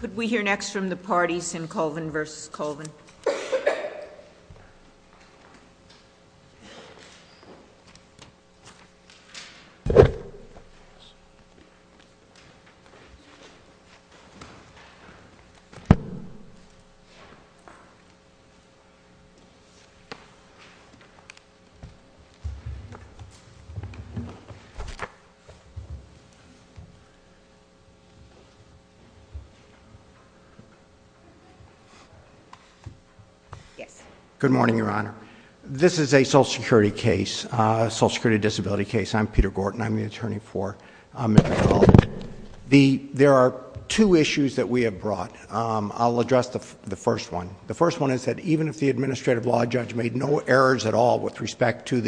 Could we hear next from the parties in Colvin v. Colvin? Good morning, Your Honor. This is a social security case, a social security disability case. I'm Peter Gorton. I'm the attorney for Mr. Colvin. There are two issues that we have brought. I'll address the first one. The first one is that even if the administrative law judge made no errors at all with respect to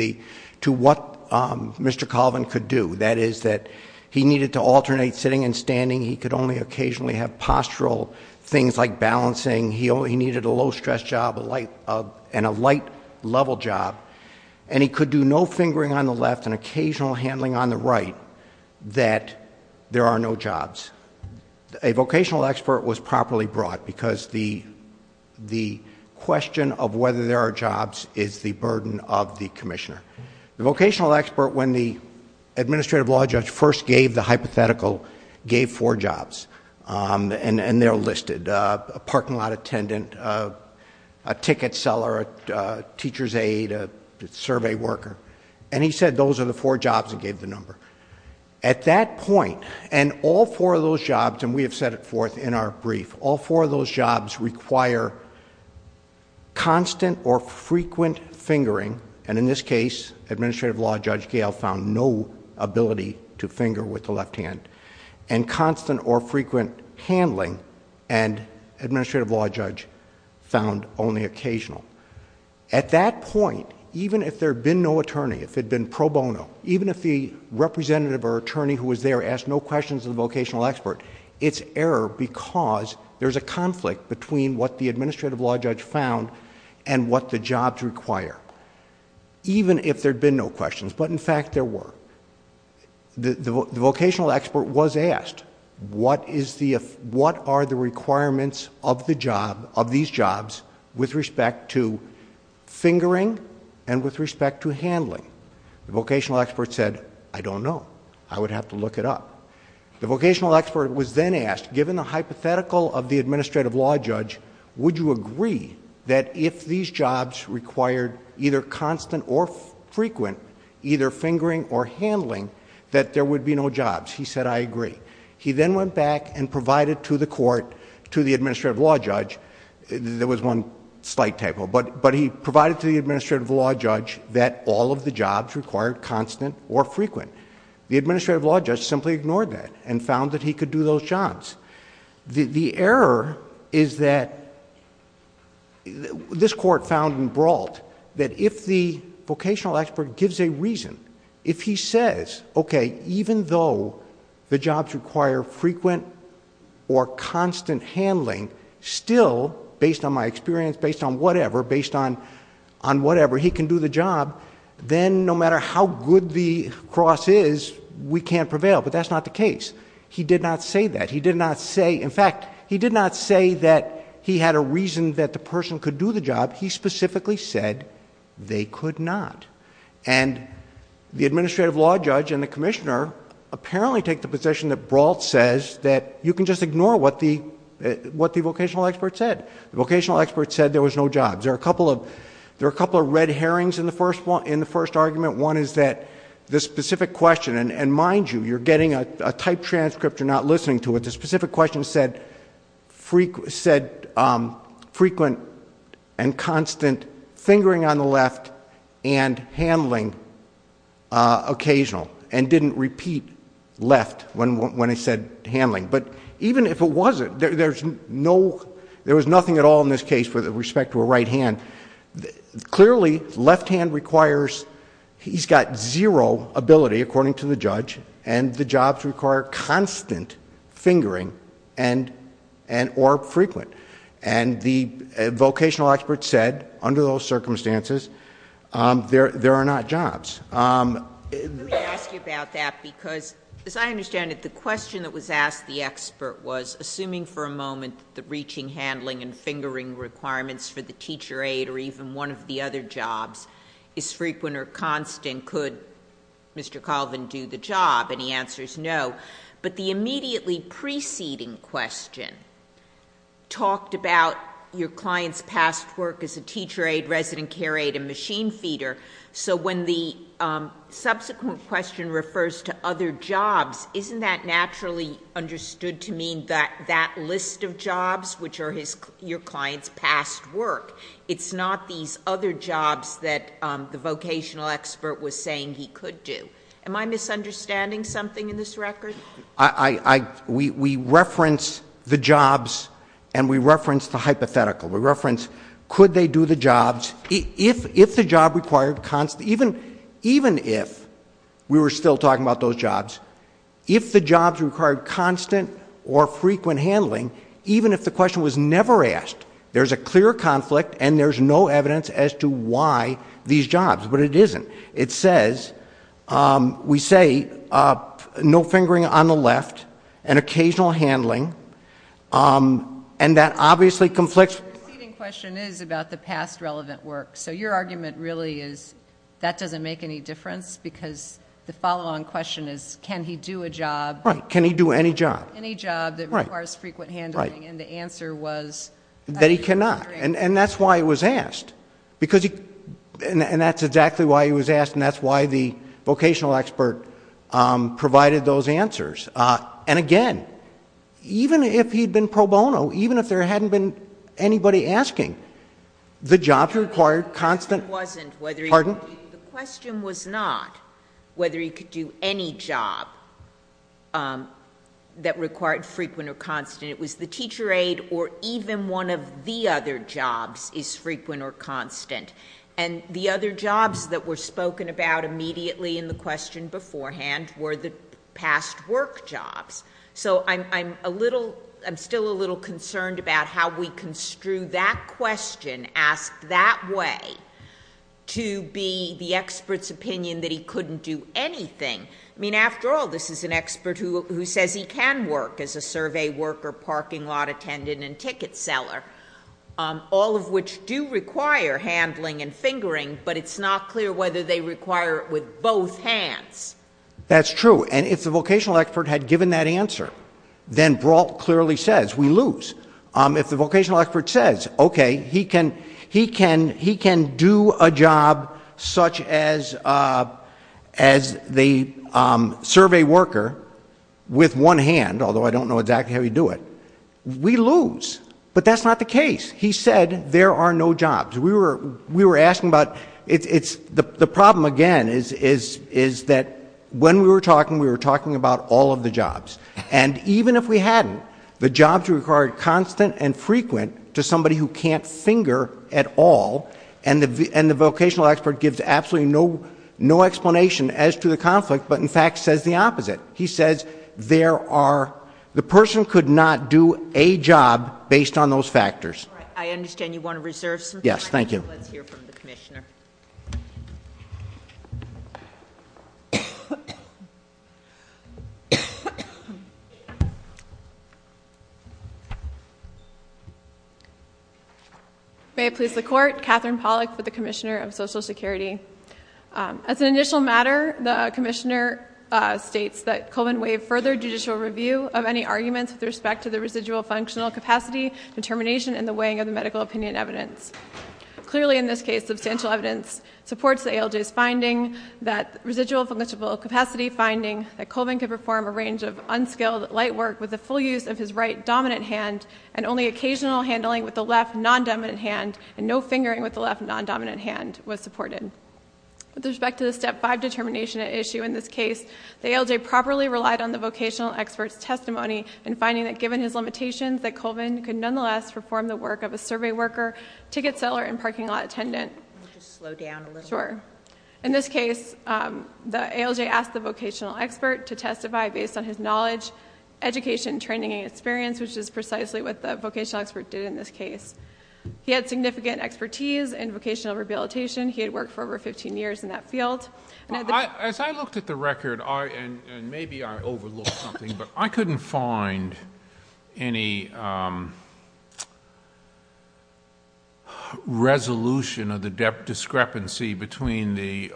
what Mr. Colvin could do, that is that he needed to alternate sitting and standing. He could only occasionally have postural things like balancing. He needed a low-stress job and a light-level job, and he could do no fingering on the left and occasional handling on the right that there are no jobs. A vocational expert was properly brought because the question of whether there are jobs is the burden of the commissioner. The vocational expert, when the administrative law judge first gave the hypothetical, gave four jobs, and they're listed, a parking lot attendant, a ticket seller, a teacher's aide, a survey worker, and he said those are the four jobs and gave the number. At that point, and all four of those jobs, and we have set it forth in our brief, all fingering, and in this case, administrative law judge Gale found no ability to finger with the left hand, and constant or frequent handling, and administrative law judge found only occasional. At that point, even if there had been no attorney, if it had been pro bono, even if the representative or attorney who was there asked no questions of the vocational expert, it's error because there's a conflict between what the administrative law judge found and what the jobs require, even if there'd been no questions, but in fact, there were. The vocational expert was asked, what are the requirements of these jobs with respect to fingering and with respect to handling? The vocational expert said, I don't know. I would have to look it up. The vocational expert was then asked, given the hypothetical of the administrative law judge, would you agree that if these jobs required either constant or frequent, either fingering or handling, that there would be no jobs? He said, I agree. He then went back and provided to the court, to the administrative law judge, there was one slight typo, but he provided to the administrative law judge that all of the jobs required constant or frequent. The administrative law judge simply ignored that and found that he could do those jobs. The error is that this court found in Brault that if the vocational expert gives a reason, if he says, okay, even though the jobs require frequent or constant handling, still, based on my experience, based on whatever, based on whatever, he can do the job, then no matter how good the cross is, we can't prevail, but that's not the case. He did not say that. He did not say, in fact, he did not say that he had a reason that the person could do the job. He specifically said they could not. And the administrative law judge and the commissioner apparently take the position that Brault says that you can just ignore what the vocational expert said. The vocational expert said there was no jobs. There are a couple of red herrings in the first argument. One is that the specific question, and mind you, you're getting a typed transcript, you're not listening to it. The specific question said frequent and constant fingering on the left and handling occasional and didn't repeat left when it said handling, but even if it wasn't, there was nothing at all in this case with respect to a right hand. Clearly left hand requires... he's got zero ability, according to the judge, and the jobs require constant fingering and, or frequent. And the vocational expert said, under those circumstances, there are not jobs. Let me ask you about that because, as I understand it, the question that was asked the expert was, assuming for a moment that the reaching, handling, and fingering requirements for the teacher aide or even one of the other jobs is frequent or constant, could Mr. Colvin do the job? And he answers no. But the immediately preceding question talked about your client's past work as a teacher aide, resident care aide, and machine feeder, so when the subsequent question refers to other jobs, isn't that naturally understood to mean that that list of jobs, which are your client's past work, it's not these other jobs that the vocational expert was saying he could do? Am I misunderstanding something in this record? We reference the jobs and we reference the hypothetical. We reference, could they do the jobs, if the job required constant, even if we were still talking about those jobs, if the jobs required constant or frequent handling, even if the question was never asked, there's a clear conflict and there's no evidence as to why these jobs. But it isn't. It says, we say, no fingering on the left, and occasional handling, and that obviously conflicts. The preceding question is about the past relevant work, so your argument really is that doesn't make any difference, because the follow-on question is, can he do a job... Right. Can he do any job? Any job that requires frequent handling, and the answer was... That he cannot, and that's why it was asked, and that's exactly why it was asked, and that's why the vocational expert provided those answers. And again, even if he had been pro bono, even if there hadn't been anybody asking, the jobs required constant... The question wasn't whether he could do... Pardon? The question was not whether he could do any job that required frequent or constant. It was the teacher aide or even one of the other jobs is frequent or constant. And the other jobs that were spoken about immediately in the question beforehand were the past work jobs. So, I'm a little... I'm still a little concerned about how we construe that question, ask that way, to be the expert's opinion that he couldn't do anything. I mean, after all, this is an expert who says he can work as a survey worker, parking lot attendant and ticket seller, all of which do require handling and fingering, but it's not clear whether they require it with both hands. That's true. And if the vocational expert had given that answer, then Brault clearly says, we lose. If the vocational expert says, okay, he can do a job such as the survey worker with one hand, although I don't know exactly how he'd do it, we lose. But that's not the case. He said there are no jobs. We were asking about... the problem, again, is that when we were talking, we were talking about all of the jobs. And even if we hadn't, the jobs required constant and frequent to somebody who can't finger at all, and the vocational expert gives absolutely no explanation as to the conflict, but in fact says the opposite. He says there are... the person could not do a job based on those factors. All right. I understand you want to reserve some time. Yes. Thank you. Let's hear from the Commissioner. May it please the Court, Katherine Pollack with the Commissioner of Social Security. As an initial matter, the Commissioner states that Colvin waived further judicial review of any arguments with respect to the residual functional capacity, determination, and the weighing of the medical opinion evidence. Clearly in this case, substantial evidence supports the ALJ's finding that residual functional capacity finding that Colvin could perform a range of unskilled light work with the full use of his right dominant hand and only occasional handling with the left non-dominant hand and no fingering with the left non-dominant hand was supported. With respect to the Step 5 determination at issue in this case, the ALJ properly relied on the vocational expert's testimony in finding that given his limitations that Colvin could nonetheless perform the work of a survey worker, ticket seller, and parking lot attendant. I'll just slow down a little bit. Sure. In this case, the ALJ asked the vocational expert to testify based on his knowledge, education, training, and experience, which is precisely what the vocational expert did in this case. He had significant expertise in vocational rehabilitation. He had worked for over fifteen years in that field. As I looked at the record, and maybe I overlooked something, but I couldn't find any resolution of the discrepancy between the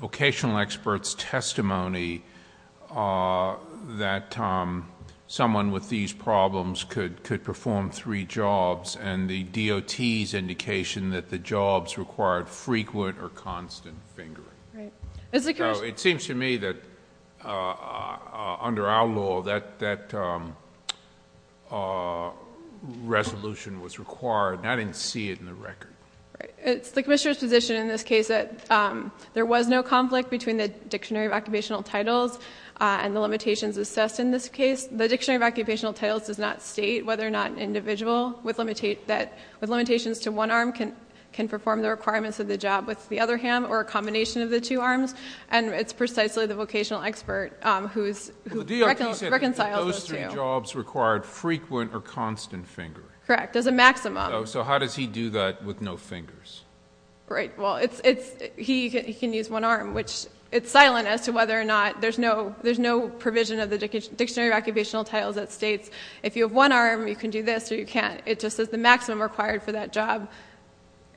vocational expert's testimony that someone with these problems could perform three jobs and the DOT's indication that the jobs required frequent or constant fingering. It seems to me that under our law, that resolution was required and I didn't see it in the record. It's the Commissioner's position in this case that there was no conflict between the Dictionary of Occupational Titles and the limitations assessed in this case. The Dictionary of Occupational Titles does not state whether or not an individual with the other hand or a combination of the two arms, and it's precisely the vocational expert who reconciles those two. Well, the DOT said that those three jobs required frequent or constant fingering. Correct. As a maximum. So how does he do that with no fingers? Right. Well, he can use one arm, which it's silent as to whether or not... there's no provision of the Dictionary of Occupational Titles that states if you have one arm, you can do this or you can't. It just says the maximum required for that job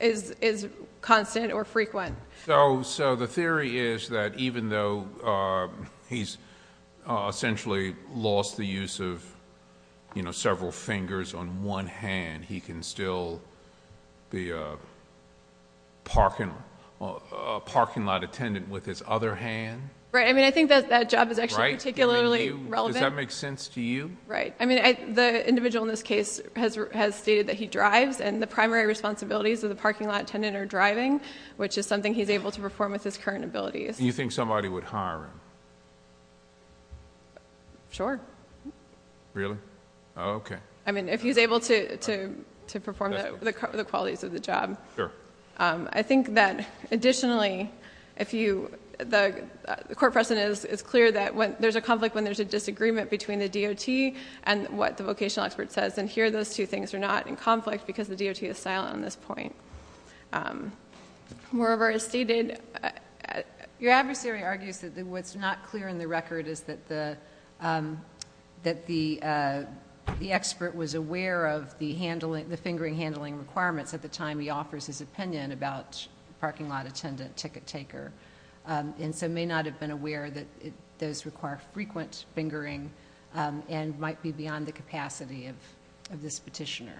is constant or frequent. So the theory is that even though he's essentially lost the use of several fingers on one hand, he can still be a parking lot attendant with his other hand? Right. I mean, I think that that job is actually particularly relevant. Does that make sense to you? Right. I mean, the individual in this case has stated that he drives and the primary responsibilities of the parking lot attendant are driving, which is something he's able to perform with his current abilities. Do you think somebody would hire him? Sure. Really? Okay. I mean, if he's able to perform the qualities of the job. Sure. I think that additionally, the court precedent is clear that there's a conflict when there's a disagreement between the DOT and what the vocational expert says and here those two things are not in conflict because the DOT is silent on this point. Moreover as stated... Your adversary argues that what's not clear in the record is that the expert was aware of the fingering handling requirements at the time he offers his opinion about parking lot attendant, ticket taker, and so may not have been aware that those require frequent fingering and might be beyond the capacity of this petitioner.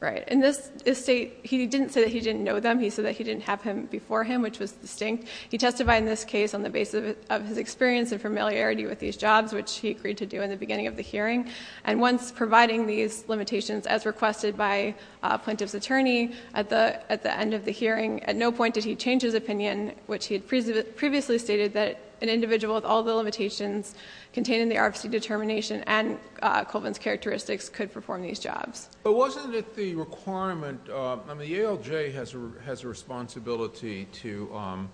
Right. In this state, he didn't say that he didn't know them. He said that he didn't have them before him, which was distinct. He testified in this case on the basis of his experience and familiarity with these jobs, which he agreed to do in the beginning of the hearing. And once providing these limitations as requested by a plaintiff's attorney at the end of the hearing, at no point did he change his opinion, which he had previously stated that an individual with all the limitations contained in the RFC determination and Colvin's characteristics could perform these jobs. But wasn't it the requirement... I mean, the ALJ has a responsibility to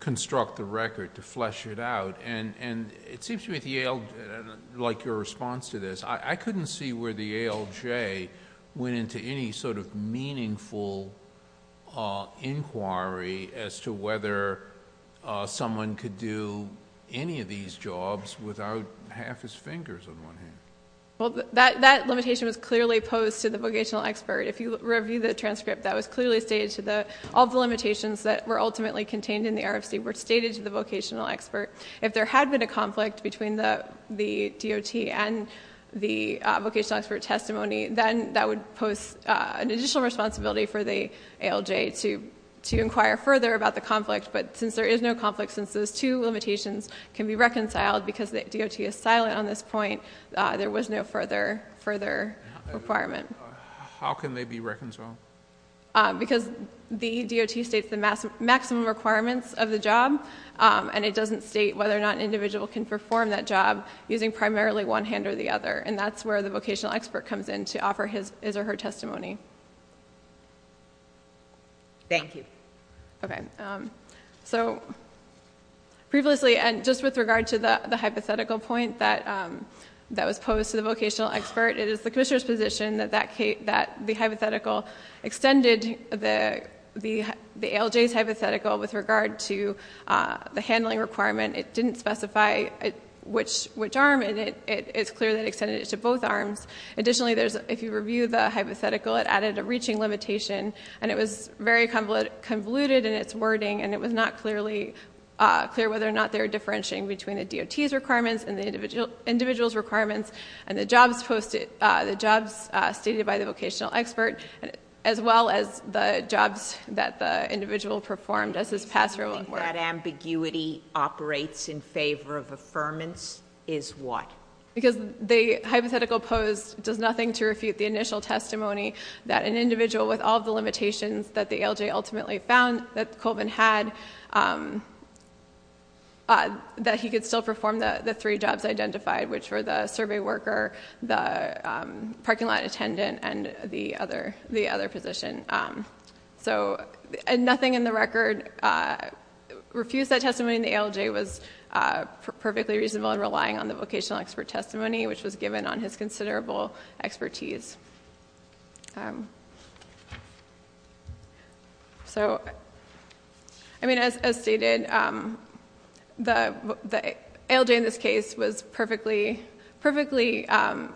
construct the record, to flesh it out, and it seems to me that the ALJ... like your response to this, I couldn't see where the ALJ went into any sort of meaningful inquiry as to whether someone could do any of these jobs without half his fingers on one hand. Well, that limitation was clearly posed to the vocational expert. If you review the transcript, that was clearly stated to the... all the limitations that were ultimately contained in the RFC were stated to the vocational expert. If there had been a conflict between the DOT and the vocational expert testimony, then that would pose an additional responsibility for the ALJ to inquire further about the conflict, but since there is no conflict, since those two limitations can be reconciled because the DOT is silent on this point, there was no further requirement. How can they be reconciled? Because the DOT states the maximum requirements of the job, and it doesn't state whether or not an individual can perform that job using primarily one hand or the other, and that's where the vocational expert comes in to offer his or her testimony. Thank you. Okay. So previously, and just with regard to the hypothetical point that was posed to the vocational expert, it is the commissioner's position that the hypothetical extended the ALJ's hypothetical with regard to the handling requirement. It didn't specify which arm, and it's clear that it extended it to both arms. Additionally, if you review the hypothetical, it added a reaching limitation, and it was very convoluted in its wording, and it was not clear whether or not they were differentiating between the DOT's requirements and the individual's requirements, and the jobs stated by the vocational expert, as well as the jobs that the individual performed as his password were. That ambiguity operates in favor of affirmance is what? Because the hypothetical posed does nothing to refute the initial testimony that an individual with all the limitations that the ALJ ultimately found that Colvin had, that he could still perform the three jobs identified, which were the survey worker, the parking lot attendant, and the other position. So nothing in the record refutes that testimony, and the ALJ was perfectly reasonable in relying on the vocational expert testimony, which was given on his considerable expertise. As stated, the ALJ in this case was perfectly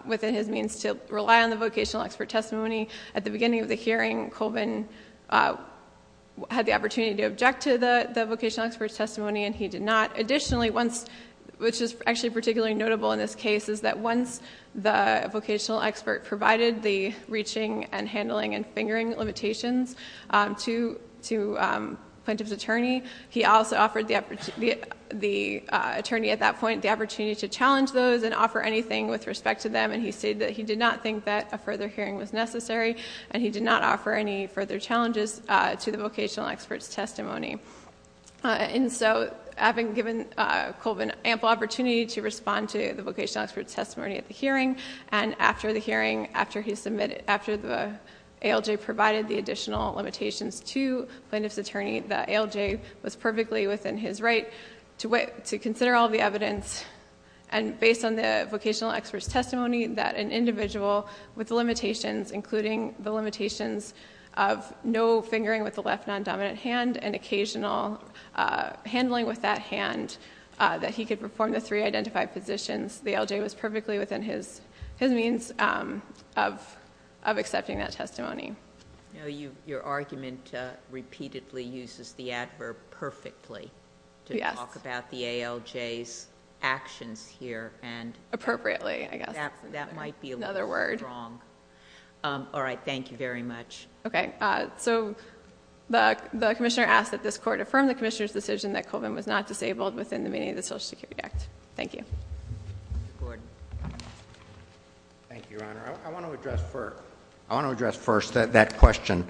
within his means to rely on the vocational expert testimony. At the beginning of the hearing, Colvin had the opportunity to object to the vocational expert's testimony, and he did not. Additionally, which is actually particularly notable in this case, is that once the vocational expert provided the reaching and handling and fingering limitations to Plaintiff's attorney, he also offered the attorney at that point the opportunity to challenge those and offer anything with respect to them, and he stated that he did not think that a further hearing was necessary, and he did not offer any further challenges to the vocational expert's testimony. So having given Colvin ample opportunity to respond to the vocational expert's testimony at the hearing, and after the hearing, after he submitted, after the ALJ provided the additional limitations to Plaintiff's attorney, the ALJ was perfectly within his right to consider all the evidence, and based on the vocational expert's fingering with the left non-dominant hand and occasional handling with that hand, that he could perform the three identified positions. The ALJ was perfectly within his means of accepting that testimony. Your argument repeatedly uses the adverb perfectly to talk about the ALJ's actions here and... Appropriately, I guess. That might be a little strong. Another word. All right. Thank you very much. Okay. So the Commissioner asked that this Court affirm the Commissioner's decision that Colvin was not disabled within the meaning of the Social Security Act. Thank you. Mr. Gordon. Thank you, Your Honor. I want to address first that question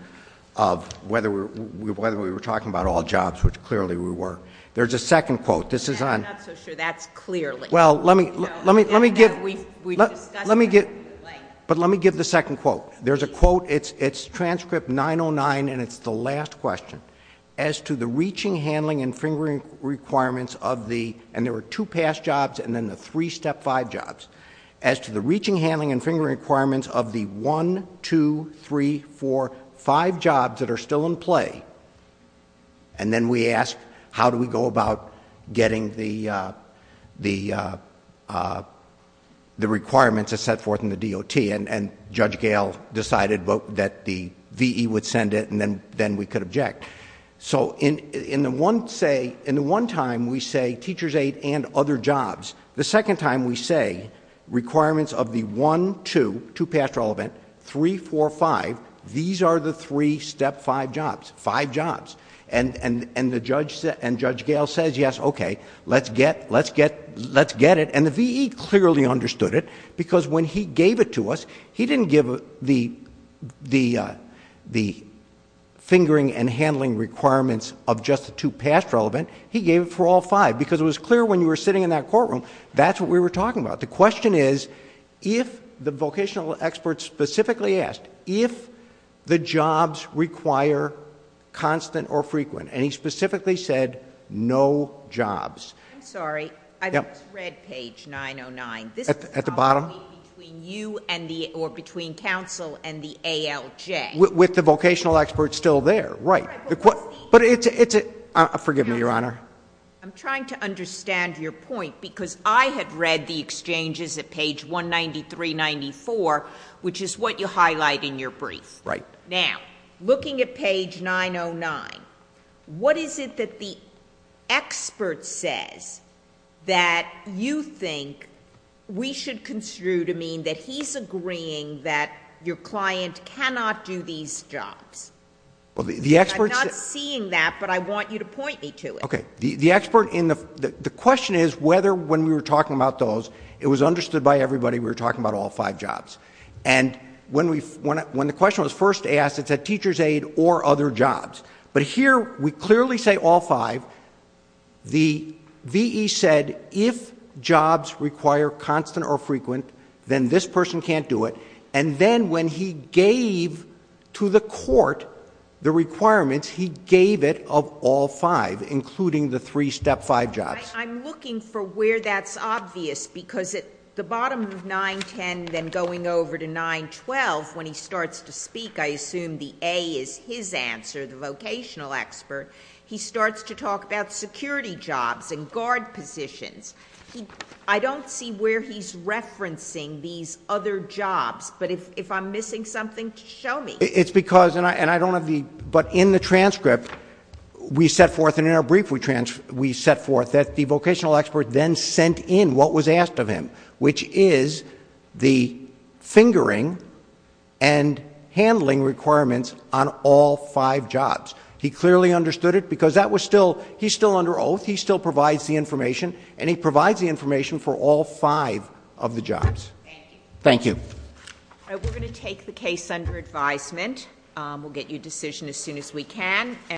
of whether we were talking about all jobs, which clearly we were. There's a second quote. This is on... I'm not so sure. That's clearly... Well, let me give... We've discussed... Let me give... Like... But let me give the second quote. There's a quote. It's transcript 909, and it's the last question. As to the reaching, handling, and fingering requirements of the... and there were two past jobs and then the three step five jobs. As to the reaching, handling, and fingering requirements of the one, two, three, four, five jobs that are still in play, and then we ask how do we go about getting the requirements that set forth in the DOT, and Judge Gail decided that the V.E. would send it, and then we could object. So in the one time, we say teacher's aid and other jobs. The second time, we say requirements of the one, two, two past relevant, three, four, five, these are the three step five jobs, five jobs. And Judge Gail says, yes, okay, let's get it, and the V.E. clearly understood it because when he gave it to us, he didn't give the fingering and handling requirements of just the two past relevant. He gave it for all five because it was clear when you were sitting in that courtroom, that's what we were talking about. The question is, if the vocational expert specifically asked, if the jobs require constant between you and the, or between counsel and the ALJ. With the vocational expert still there, right. But it's a, forgive me, Your Honor. I'm trying to understand your point because I had read the exchanges at page 193, 94, which is what you highlight in your brief. Right. Now, looking at page 909, what is it that the expert says that you think we should construe to mean that he's agreeing that your client cannot do these jobs? Well, the expert's... I'm not seeing that, but I want you to point me to it. Okay. The expert in the, the question is whether when we were talking about those, it was understood by everybody we were talking about all five jobs. And when we, when the question was first asked, it said teacher's aid or other jobs. But here we clearly say all five. Now, the V.E. said if jobs require constant or frequent, then this person can't do it. And then when he gave to the court the requirements, he gave it of all five, including the three step five jobs. I'm looking for where that's obvious because at the bottom of 910, then going over to 912, when he starts to speak, I assume the A is his answer, the vocational expert. He starts to talk about security jobs and guard positions. I don't see where he's referencing these other jobs, but if I'm missing something, show me. It's because, and I don't have the... but in the transcript, we set forth and in our brief we set forth that the vocational expert then sent in what was asked of him, which is the fingering and handling requirements on all five jobs. He clearly understood it because that was still... he's still under oath, he still provides the information, and he provides the information for all five of the jobs. Thank you. We're going to take the case under advisement. We'll get you a decision as soon as we can.